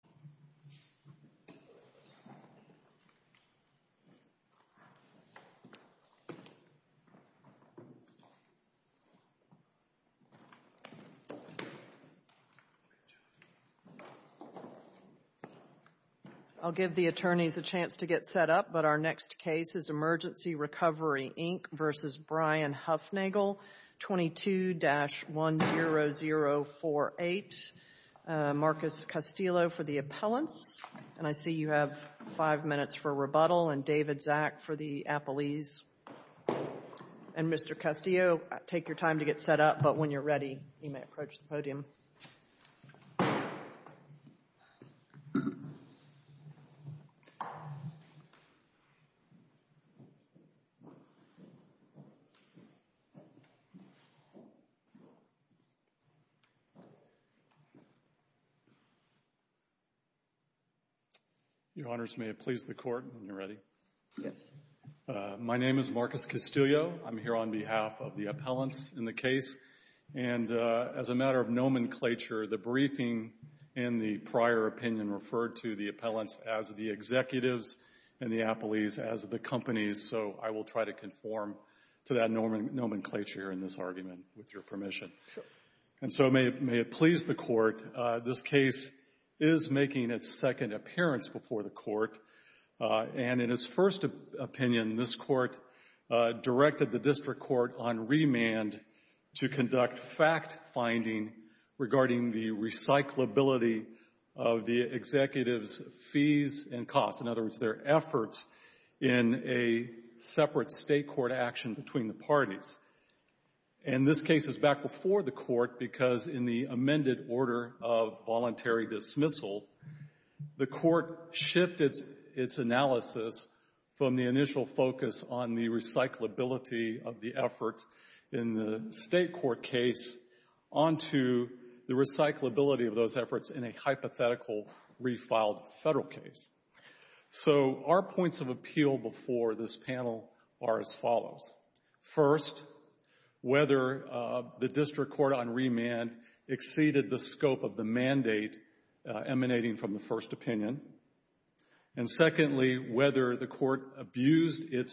22-10048. Marcus Castillo for the attorney's office. The appellants, and I see you have five minutes for rebuttal, and David Zak for the appellees. And Mr. Castillo, take your time to get set up, but when you're ready, you may approach the podium. Your Honors, may it please the Court when you're ready. Yes. My name is Marcus Castillo. As a matter of nomenclature, the briefing in the prior opinion referred to the appellants as the executives and the appellees as the companies, so I will try to conform to that nomenclature in this argument, with your permission. Sure. And so may it please the Court, this case is making its second appearance before the Court, and in its first opinion, this Court directed the District Court on remand to conduct fact-finding regarding the recyclability of the executives' fees and costs, in other words, their efforts in a separate State court action between the parties. And this case is back before the Court because in the amended order of voluntary dismissal, the Court shifted its analysis from the initial focus on the recyclability of the effort in the State court case onto the recyclability of those efforts in a hypothetical refiled Federal case. So our points of appeal before this panel are as follows. First, whether the District Court on remand exceeded the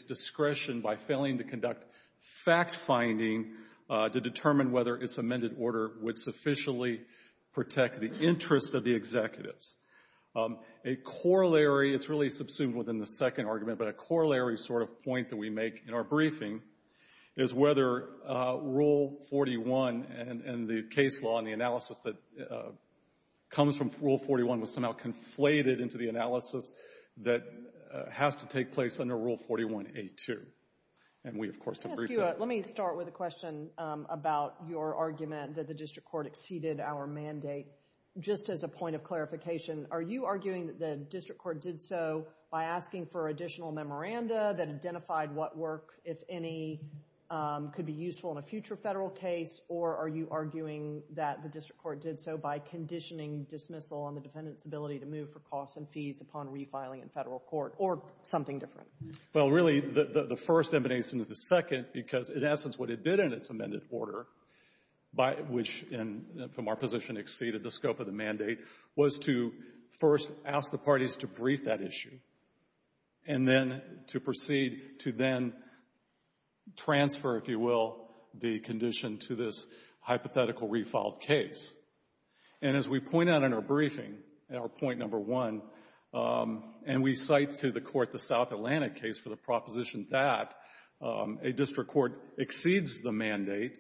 discretion by failing to conduct fact-finding to determine whether its amended order would sufficiently protect the interests of the executives. A corollary, it's really subsumed within the second argument, but a corollary sort of point that we make in our briefing is whether Rule 41 and the case law and the analysis that comes from Rule 41 was somehow conflated into the analysis that has to take place under Rule 41A2. And we, of course, have briefed that. Let me start with a question about your argument that the District Court exceeded our mandate. Just as a point of clarification, are you arguing that the District Court did so by asking for additional memoranda that identified what work, if any, could be useful in a future Federal case, or are you arguing that the District Court did so by conditioning dismissal on the defendant's ability to move for costs and fees upon refiling in Federal court or something different? Well, really, the first emanates into the second because, in essence, what it did in its amended order, which in the more position exceeded the scope of the mandate, was to first ask the parties to brief that issue and then to proceed to then transfer, if you will, the condition to this hypothetical refiled case. And as we point out in our briefing, in our point number one, and we cite to the Court the South Atlantic case for the proposition that a District Court exceeds the mandate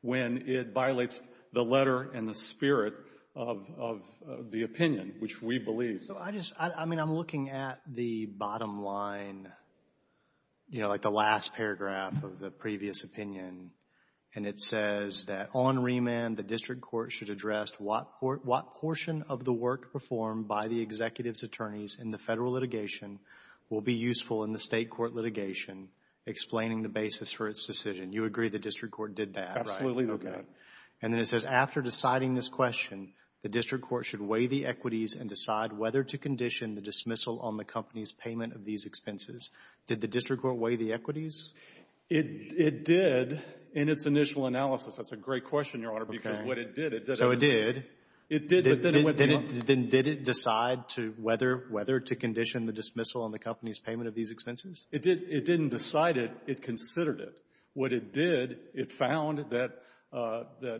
when it violates the letter and the spirit of the opinion, which we believe. So I just — I mean, I'm looking at the bottom line, you know, like the last paragraph of the previous opinion, and it says that on remand, the District Court should address what portion of the work performed by the executive's attorneys in the Federal litigation will be useful in the State court litigation, explaining the basis for its decision. You agree the District Court did that, right? Absolutely agree. Okay. And then it says, after deciding this question, the District Court should weigh the equities and decide whether to condition the dismissal on the company's payment of these expenses. Did the District Court weigh the equities? It did in its initial analysis. That's a great question, Your Honor, because what it did, it didn't — So it did. It did, but then it went beyond — Then did it decide to whether — whether to condition the dismissal on the company's payment of these expenses? It did. It didn't decide it. It considered it. What it did, it found that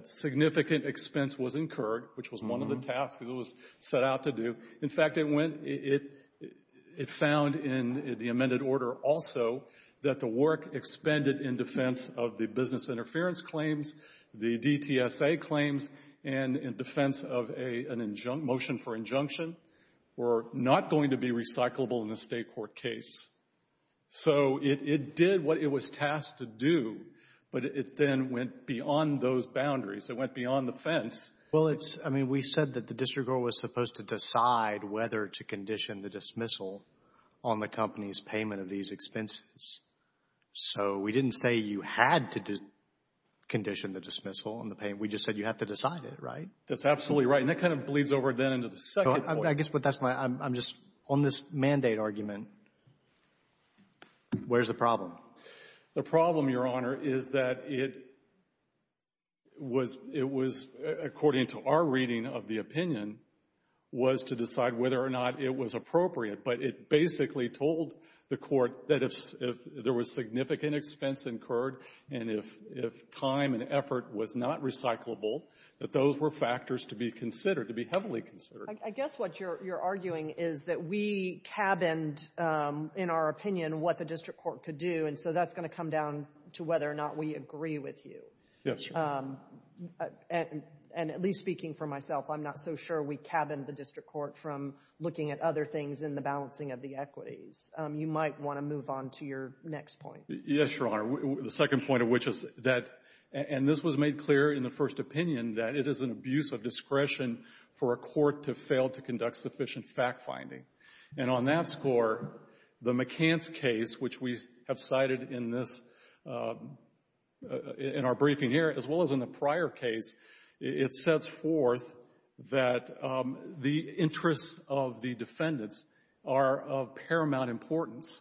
significant expense was incurred, which was one of the tasks it was set out to do. In fact, it went — it found in the amended order also that the work expended in defense of the business interference claims, the DTSA claims, and in defense of a — an motion for injunction were not going to be recyclable in a State court case. So it did what it was tasked to do, but it then went beyond those boundaries. It went beyond the fence. Well, it's — I mean, we said that the District Court was supposed to decide whether to condition the dismissal on the company's payment of these expenses. So we didn't say you had to condition the dismissal on the payment. We just said you have to decide it, right? That's absolutely right. And that kind of bleeds over then into the second point. I guess what that's my — I'm just — on this mandate argument, where's the problem? The problem, Your Honor, is that it was — it was, according to our reading of the opinion, was to decide whether or not it was appropriate. But it basically told the Court that if there was significant expense incurred and if time and effort was not recyclable, that those were factors to be considered, to be heavily considered. I guess what you're arguing is that we cabined, in our opinion, what the District Court could do. And so that's going to come down to whether or not we agree with you. Yes, Your Honor. And at least speaking for myself, I'm not so sure we cabined the District Court from looking at other things in the balancing of the equities. You might want to move on to your next point. Yes, Your Honor. The second point of which is that — and this was made clear in the first opinion, that it is an abuse of discretion for a court to fail to conduct sufficient fact-finding. And on that score, the McCants case, which we have cited in this — in our briefing here, as well as in the prior case, it sets forth that the interests of the defendants are of paramount importance.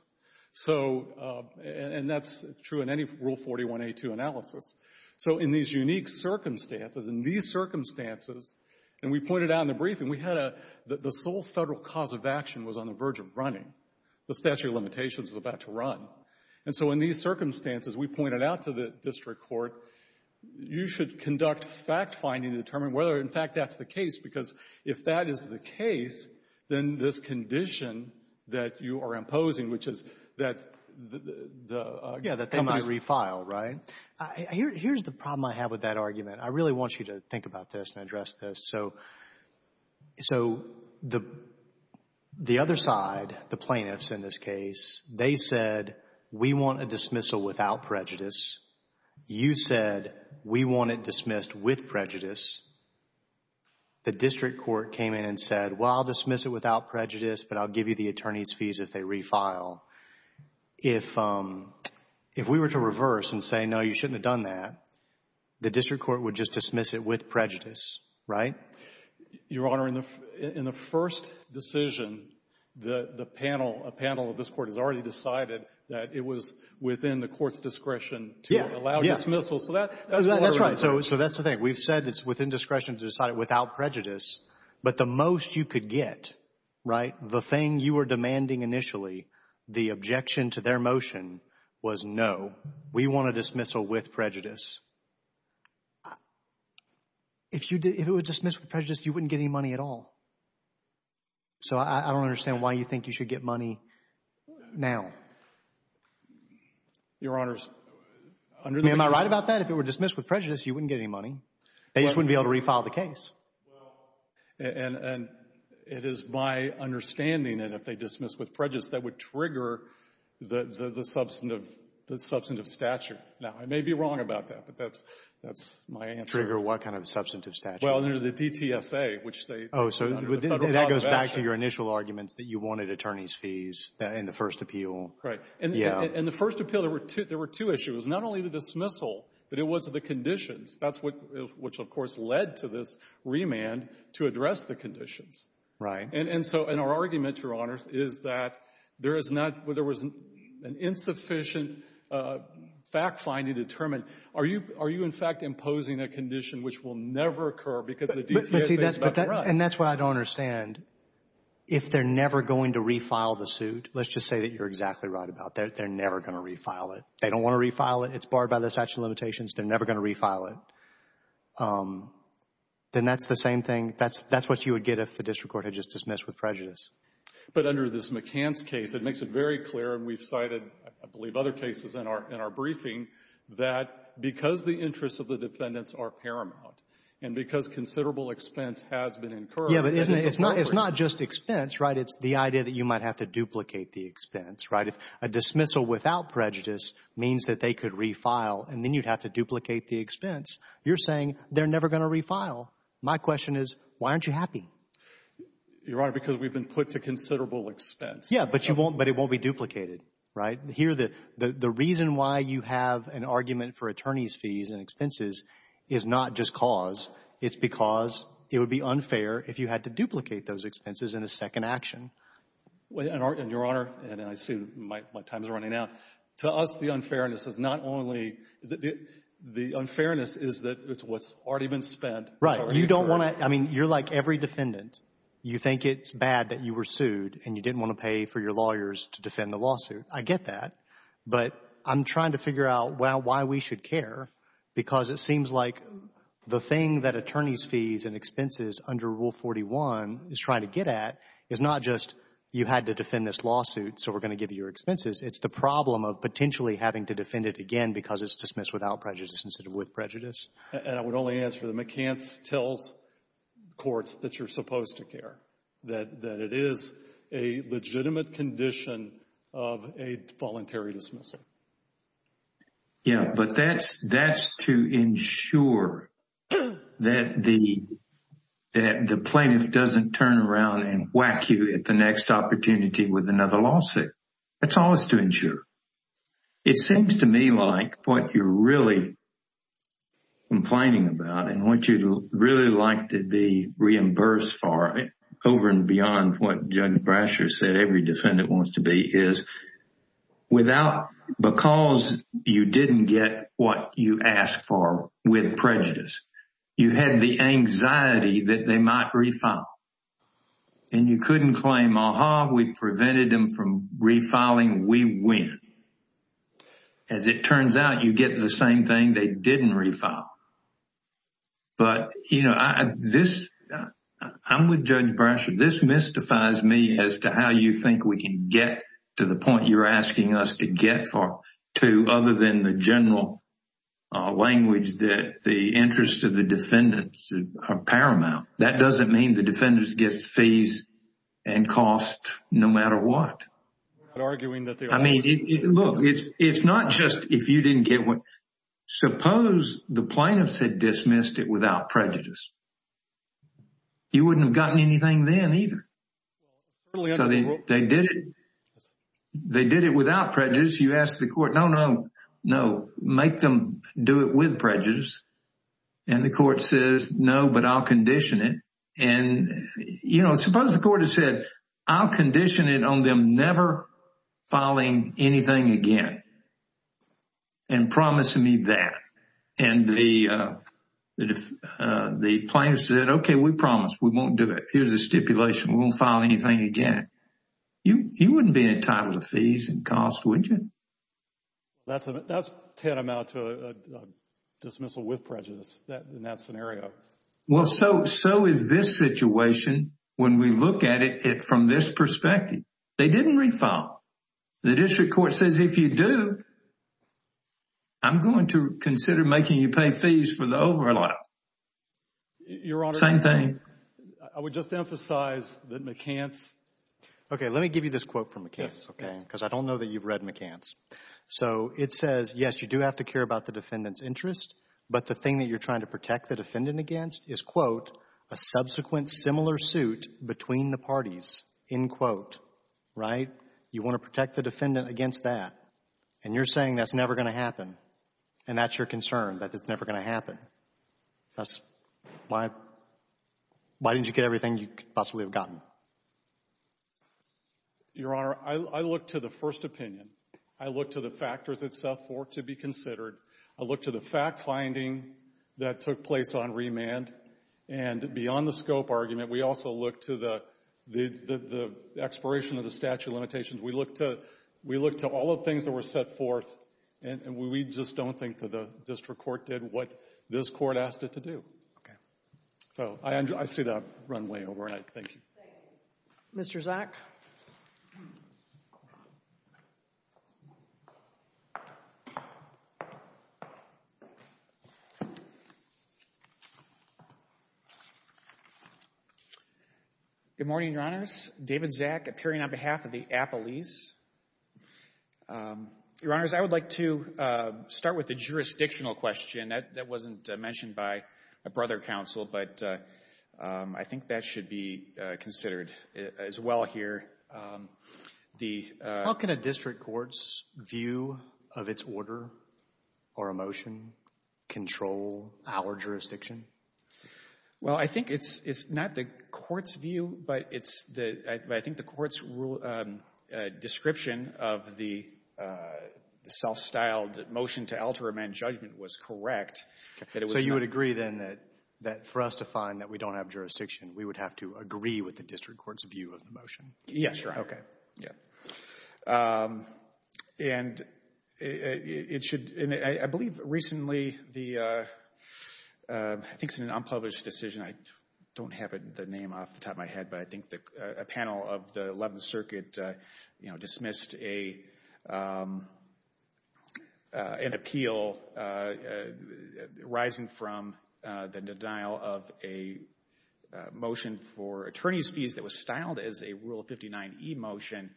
So — and that's true in any Rule 41a2 analysis. So in these unique circumstances, in these circumstances, and we pointed out in the briefing, we had a — the sole Federal cause of action was on the verge of running. The statute of limitations was about to run. And so in these circumstances, we pointed out to the District Court, you should conduct fact-finding to determine whether, in fact, that's the case, because if that is the case, then this condition that you are imposing, which is that the — Yeah, that they might refile, right? Here's the problem I have with that argument. I really want you to think about this and address this. So the other side, the plaintiffs in this case, they said, we want a dismissal without prejudice. You said, we want it dismissed with prejudice. The District Court came in and said, well, I'll dismiss it without prejudice, but I'll give you the attorney's fees if they refile. If we were to reverse and say, no, you shouldn't have done that, the District Court would just dismiss it with prejudice, right? Your Honor, in the first decision, the panel, a panel of this Court has already decided that it was within the Court's discretion to allow dismissal. So that's part of the argument. So that's the thing. We've said it's within discretion to decide it without prejudice. But the most you could get, right, the thing you were demanding initially, the objection to their motion was, no, we want a dismissal with prejudice. If you did, if it were dismissed with prejudice, you wouldn't get any money at all. So I don't understand why you think you should get money now. Your Honors, under the. I mean, am I right about that? If it were dismissed with prejudice, you wouldn't get any money. They just wouldn't be able to refile the case. Well, and it is my understanding that if they dismiss with prejudice, that would trigger the substantive, the substantive statute. Now, I may be wrong about that. But that's, that's my answer. Trigger what kind of substantive statute? Well, under the DTSA, which they. Oh, so that goes back to your initial arguments that you wanted attorney's fees in the first appeal. Right. And in the first appeal, there were two issues. Not only the dismissal, but it was the conditions. That's what, which, of course, led to this remand to address the conditions. Right. And so in our argument, Your Honors, is that there is not, there was an insufficient fact-finding to determine, are you, are you, in fact, imposing a condition which will never occur because the DTSA is about to run? And that's what I don't understand. If they're never going to refile the suit, let's just say that you're exactly right about that. They're never going to refile it. They don't want to refile it. It's barred by the statute of limitations. They're never going to refile it. Then that's the same thing. That's, that's what you would get if the district court had just dismissed with prejudice. But under this McCance case, it makes it very clear, and we've cited, I believe, other cases in our briefing, that because the interests of the defendants are paramount and because considerable expense has been incurred, it's appropriate. Yeah, but isn't it, it's not, it's not just expense, right? It's the idea that you might have to duplicate the expense, right? If a dismissal without prejudice means that they could refile and then you'd have to duplicate the expense, you're saying they're never going to refile. My question is, why aren't you happy? Your Honor, because we've been put to considerable expense. Yeah, but you won't, but it won't be duplicated, right? The reason why you have an argument for attorney's fees and expenses is not just cause. It's because it would be unfair if you had to duplicate those expenses in a second action. And Your Honor, and I see my time is running out. To us, the unfairness is not only, the unfairness is that it's what's already been spent. Right. You don't want to, I mean, you're like every defendant. You think it's bad that you were sued and you didn't want to pay for your lawyers to defend the lawsuit. I get that, but I'm trying to figure out why we should care because it seems like the thing that attorney's fees and expenses under Rule 41 is trying to get at is not just you had to defend this lawsuit, so we're going to give you your expenses. It's the problem of potentially having to defend it again because it's dismissed without prejudice instead of with prejudice. And I would only answer the McCants tells courts that you're supposed to care, that it is a legitimate condition of a voluntary dismissal. Yeah, but that's to ensure that the plaintiff doesn't turn around and whack you at the next opportunity with another lawsuit. That's all it's to ensure. It seems to me like what you're really complaining about and what you'd really like to be reimbursed for over and beyond what Judge Brasher said every defendant wants to be is without, because you didn't get what you asked for with prejudice, you had the anxiety that they might refile and you couldn't claim, aha, we prevented them from refiling, we win. As it turns out, you get the same thing they didn't refile. But, you know, this, I'm with Judge Brasher, this mystifies me as to how you think we can get to the point you're asking us to get to other than the general language that the interest of the defendants are paramount. That doesn't mean the defendants get fees and costs no matter what. You're not arguing that they are. Look, it's not just if you didn't get one. Suppose the plaintiffs had dismissed it without prejudice. You wouldn't have gotten anything then either. So they did it without prejudice. You ask the court, no, no, no, make them do it with prejudice. And the court says, no, but I'll condition it. You know, suppose the court had said, I'll condition it on them never filing anything again and promising me that. And the plaintiffs said, okay, we promise we won't do it. Here's a stipulation, we won't file anything again. You wouldn't be entitled to fees and costs, would you? That's tantamount to a dismissal with prejudice in that scenario. Well, so is this situation when we look at it from this perspective. They didn't refile. The district court says, if you do, I'm going to consider making you pay fees for the overlap. Your Honor, I would just emphasize that McCants. Okay, let me give you this quote from McCants, okay? Because I don't know that you've read McCants. So it says, yes, you do have to care about the defendant's interest, but the thing that you're trying to protect the defendant against is, quote, a subsequent similar suit between the parties, end quote, right? You want to protect the defendant against that. And you're saying that's never going to happen. And that's your concern, that it's never going to happen. That's why, why didn't you get everything you could possibly have gotten? Your Honor, I look to the first opinion. I look to the factors itself for it to be considered. I look to the fact-finding that took place on remand. And beyond the scope argument, we also look to the, the expiration of the statute of limitations. We look to, we look to all the things that were set forth, and we just don't think that the district court did what this court asked it to do. Okay. So I see that run way over, and I thank you. Thank you. Mr. Zak. Good morning, Your Honors. David Zak, appearing on behalf of the Appellees. Your Honors, I would like to start with a jurisdictional question. That wasn't mentioned by a brother counsel, but I think that should be considered as well here. The How can a district court's view of its order or a motion control our jurisdiction? Well, I think it's, it's not the court's view, but it's the, I think the court's rule, description of the self-styled motion to alter remand judgment was correct. That it was So you would agree then that, that for us to find that we don't have jurisdiction, we would have to agree with the district court's view of the motion? Yes, Your Honor. Okay. Yeah. And it should, and I believe recently the, I think it's an unpublished decision. I don't have the name off the top of my head, but I think a panel of the 11th Circuit, you know, dismissed an appeal arising from the denial of a motion for attorney's fees that was styled as a Rule 59e motion,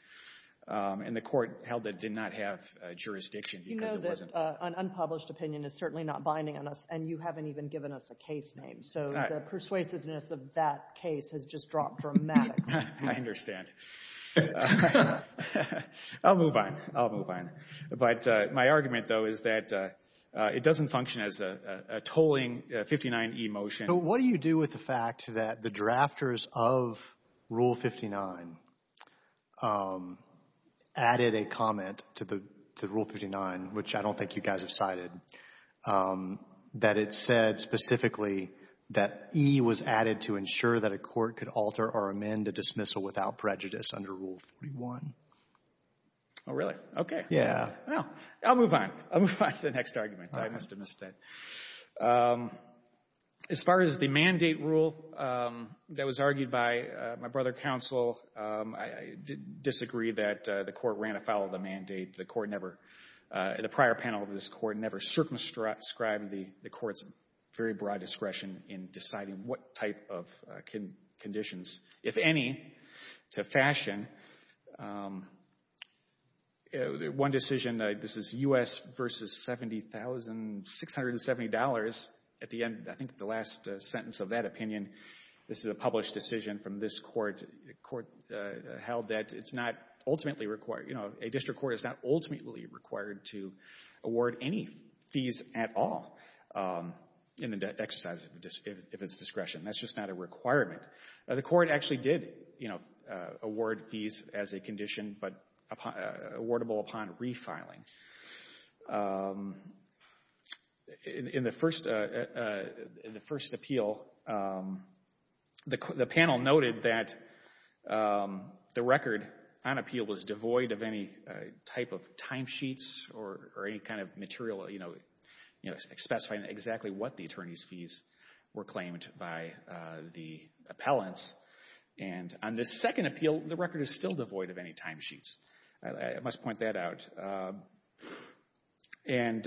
and the court held that it did not have jurisdiction. You know that an unpublished opinion is certainly not binding on us, and you haven't even given us a case name, so the persuasiveness of that case has just dropped dramatically. I understand. I'll move on. I'll move on. But my argument, though, is that it doesn't function as a tolling 59e motion. What do you do with the fact that the drafters of Rule 59 added a comment to the Rule 59, which I don't think you guys have cited, that it said specifically that E was added to ensure that a court could alter or amend a dismissal without prejudice under Rule 41? Oh, really? Okay. Yeah. Well, I'll move on. I'll move on to the next argument. I must have missed it. As far as the mandate rule that was argued by my brother counsel, I disagree that the court ran afoul of the mandate. The court never, the prior panel of this court, never circumscribed the court's very broad discretion in deciding what type of conditions, if any, to fashion. One decision, this is U.S. versus $70,670 at the end. I think the last sentence of that opinion, this is a published decision from this court, court held that it's not ultimately required, you know, a district court is not ultimately required to award any fees at all in the exercise of its discretion. That's just not a requirement. The court actually did, you know, award fees as a condition, but awardable upon refiling. In the first appeal, the panel noted that the record on appeal was devoid of any type of timesheets or any kind of material, you know, specifying exactly what the attorney's the appellants. And on the second appeal, the record is still devoid of any timesheets. I must point that out. And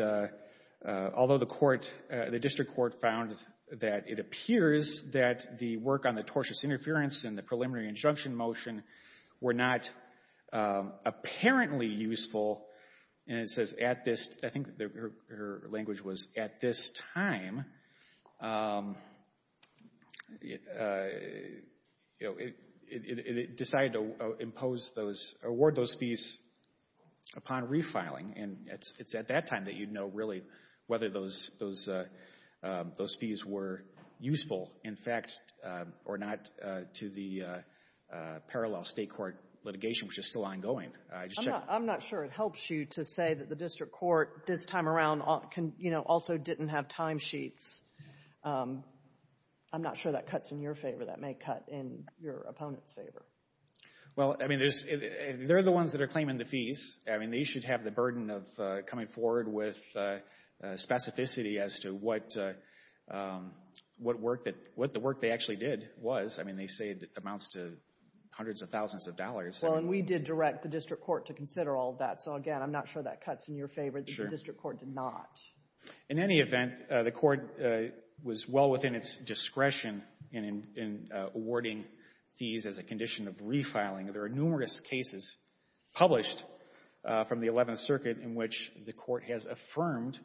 although the court, the district court found that it appears that the work on the tortious interference and the preliminary injunction motion were not apparently useful, and it says at this, I think her language was at this time, you know, it decided to impose those, award those fees upon refiling. And it's at that time that you'd know really whether those fees were useful, in fact, or not to the parallel state court litigation, which is still ongoing. I'm not sure it helps you to say that the district court this time around, you know, also didn't have timesheets. I'm not sure that cuts in your favor. That may cut in your opponent's favor. Well, I mean, they're the ones that are claiming the fees. I mean, they should have the burden of coming forward with specificity as to what work that, what the work they actually did was. I mean, they say it amounts to hundreds of thousands of dollars. Well, and we did direct the district court to consider all that. So, again, I'm not sure that cuts in your favor that the district court did not. In any event, the court was well within its discretion in awarding fees as a condition of refiling. There are numerous cases published from the Eleventh Circuit in which the court has affirmed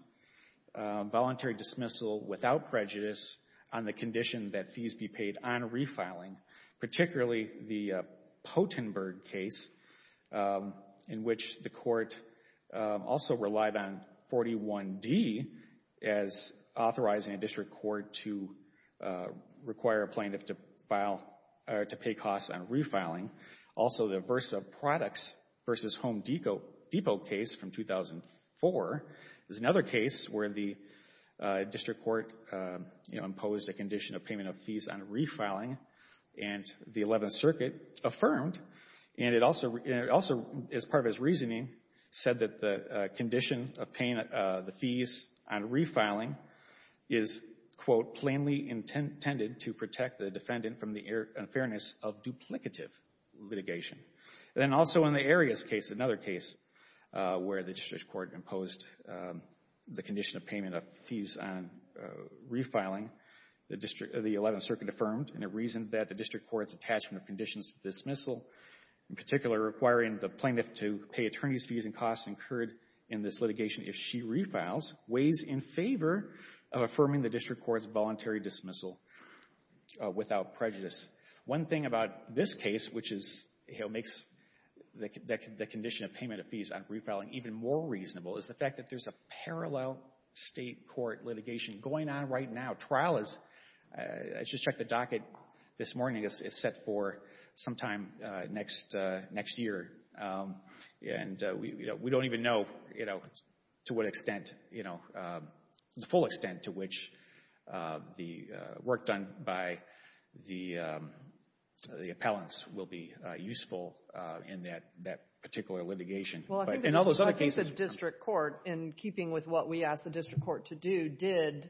voluntary dismissal without prejudice on the condition that fees be paid on refiling, particularly the Pottenberg case in which the court also relied on 41D as authorizing a district court to require a plaintiff to pay costs on refiling. Also, the Versa Products v. Home Depot case from 2004 is another case where the district court imposed a condition of payment of fees on refiling, and the Eleventh Circuit affirmed, and it also, as part of his reasoning, said that the condition of paying the fees on refiling is, quote, plainly intended to protect the defendant from the unfairness of duplicative litigation. Then also in the Arias case, another case where the district court imposed the condition of payment of fees on refiling, the Eleventh Circuit affirmed, and it reasoned that the district court's attachment of conditions to dismissal, in particular requiring the plaintiff to pay attorney's fees and costs incurred in this litigation if she refiles, weighs in favor of affirming the district court's voluntary dismissal without prejudice. One thing about this case, which is, you know, makes the condition of payment of fees on refiling even more reasonable is the fact that there's a parallel state court litigation going on right now. Trial is, I just checked the docket this morning, is set for sometime next year, and we don't even know, you know, to what extent, you know, the full extent to which the work done by the appellants will be useful in that particular litigation. Well, I think the case of district court, in keeping with what we asked the district court to do, did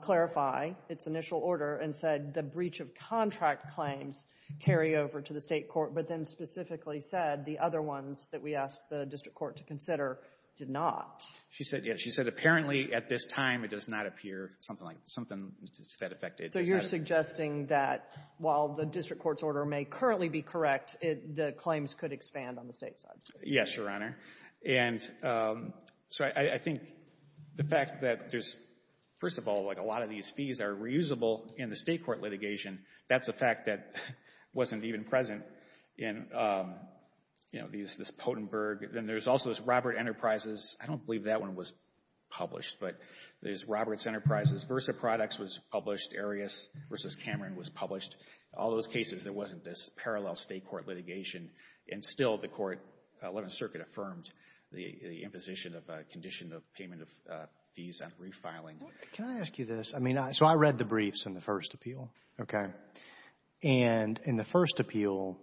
clarify its initial order and said the breach of contract claims carry over to the state court, but then specifically said the other ones that we asked the district court to consider did not. She said, yes. She said apparently at this time it does not appear something like that. Something that affected. So you're suggesting that while the district court's order may currently be correct, the claims could expand on the state side? Yes, Your Honor. And so I think the fact that there's, first of all, like a lot of these fees are reusable in the state court litigation. That's a fact that wasn't even present in, you know, this Pottenberg. Then there's also this Robert Enterprises. I don't believe that one was published, but there's Roberts Enterprises. Versa Products was published. Arias v. Cameron was published. All those cases, there wasn't this parallel state court litigation, and still the court 11th Circuit affirmed the imposition of a condition of payment of fees on refiling. Can I ask you this? I mean, so I read the briefs in the first appeal, okay? And in the first appeal,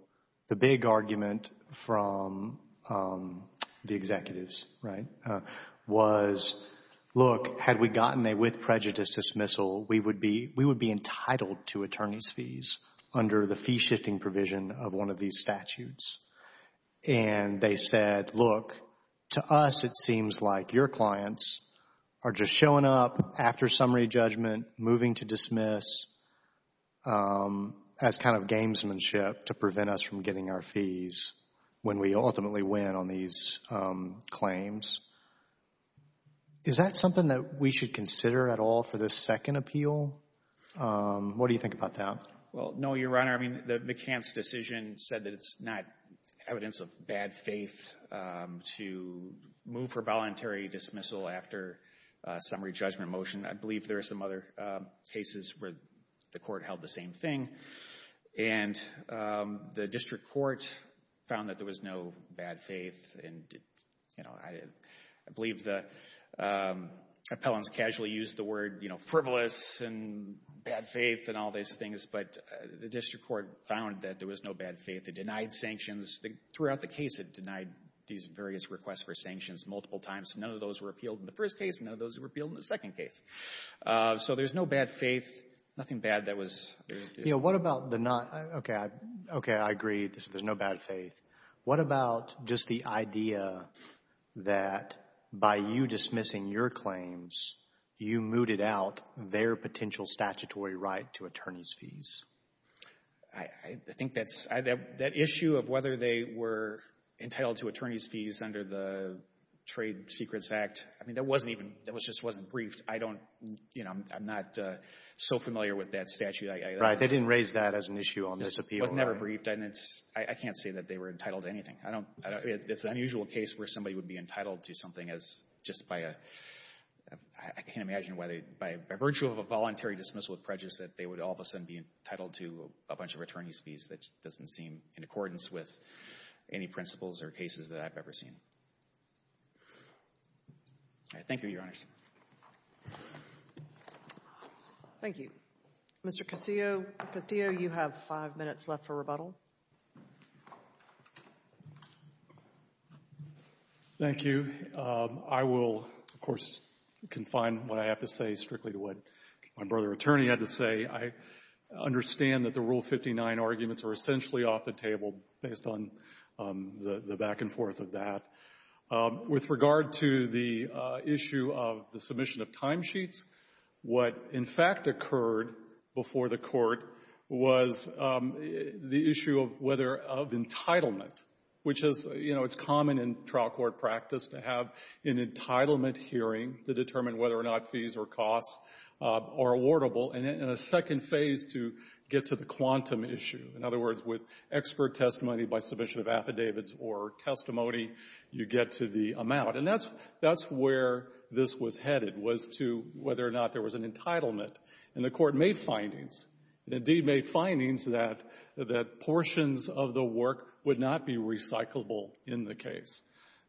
the big argument from the executives, right, was, look, had we gotten a with prejudice dismissal, we would be entitled to attorney's fees under the fee-shifting provision of one of these statutes. And they said, look, to us, it seems like your clients are just showing up after summary judgment, moving to dismiss as kind of gamesmanship to prevent us from getting our fees when we ultimately win on these claims. Is that something that we should consider at all for this second appeal? What do you think about that? Well, no, Your Honor. I mean, McCann's decision said that it's not evidence of bad faith to move for voluntary dismissal after summary judgment motion. I believe there are some other cases where the court held the same thing. And the district court found that there was no bad faith. And, you know, I believe the appellants casually used the word, you know, frivolous and bad faith and all these things. But the district court found that there was no bad faith. It denied sanctions. Throughout the case, it denied these various requests for sanctions multiple times. None of those were appealed in the first case. None of those were appealed in the second case. So there's no bad faith, nothing bad that was there. You know, what about the not? Okay. Okay. I agree there's no bad faith. What about just the idea that by you dismissing your claims, you mooted out their potential statutory right to attorney's fees? I think that's — that issue of whether they were entitled to attorney's fees under the Trade Secrets Act, I mean, that wasn't even — that just wasn't briefed. I don't — you know, I'm not so familiar with that statute. Right. They didn't raise that as an issue on this appeal. It was never briefed. And it's — I can't say that they were entitled to anything. I don't — it's an unusual case where somebody would be entitled to something as just by a — I can't imagine why they — by virtue of a voluntary dismissal of prejudice that they would all of a sudden be entitled to a bunch of attorney's fees. That doesn't seem in accordance with any principles or cases that I've ever seen. All right. Thank you, Your Honors. Thank you. Mr. Castillo, you have five minutes left for rebuttal. Thank you. I will, of course, confine what I have to say strictly to what my brother attorney had to say. I understand that the Rule 59 arguments are essentially off the table based on the back and forth of that. With regard to the issue of the submission of timesheets, what, in fact, occurred before the Court was the issue of whether — of entitlement, which is — you know, it's common in trial court practice to have an entitlement hearing to determine whether or not fees or costs are awardable, and then a second phase to get to the quantum issue. In other words, with expert testimony by submission of affidavits or testimony, you get to the amount. And that's — that's where this was headed, was to whether or not there was an entitlement. And the Court made findings. It indeed made findings that — that portions of the work would not be recyclable in the case.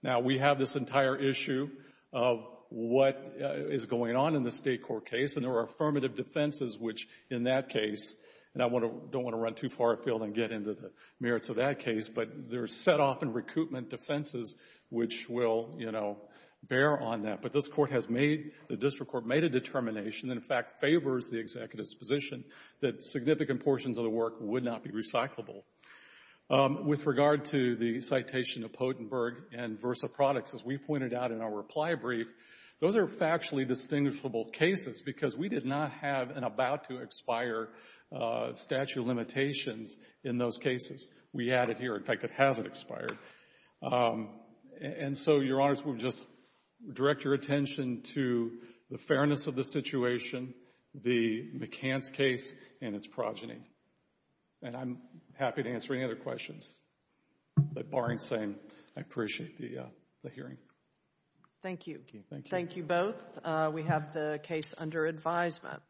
Now, we have this entire issue of what is going on in the State court case, and there are affirmative defenses which, in that case — and I want to — don't want to run too far afield and get into the merits of that case, but there are set-off and recoupment defenses which will, you know, bear on that. But this Court has made — the district court made a determination and, in fact, favors the executive's position that significant portions of the work would not be recyclable. With regard to the citation of Pottenberg and Versa Products, as we pointed out in our reply brief, those are factually distinguishable cases because we did not have an about-to-expire statute of limitations in those cases. We had it here. In fact, it hasn't expired. And so, Your Honors, we'll just direct your attention to the fairness of the situation, the McCants case, and its progeny. And I'm happy to answer any other questions. But barring saying, I appreciate the hearing. Thank you. Thank you both. We have the case under advisement.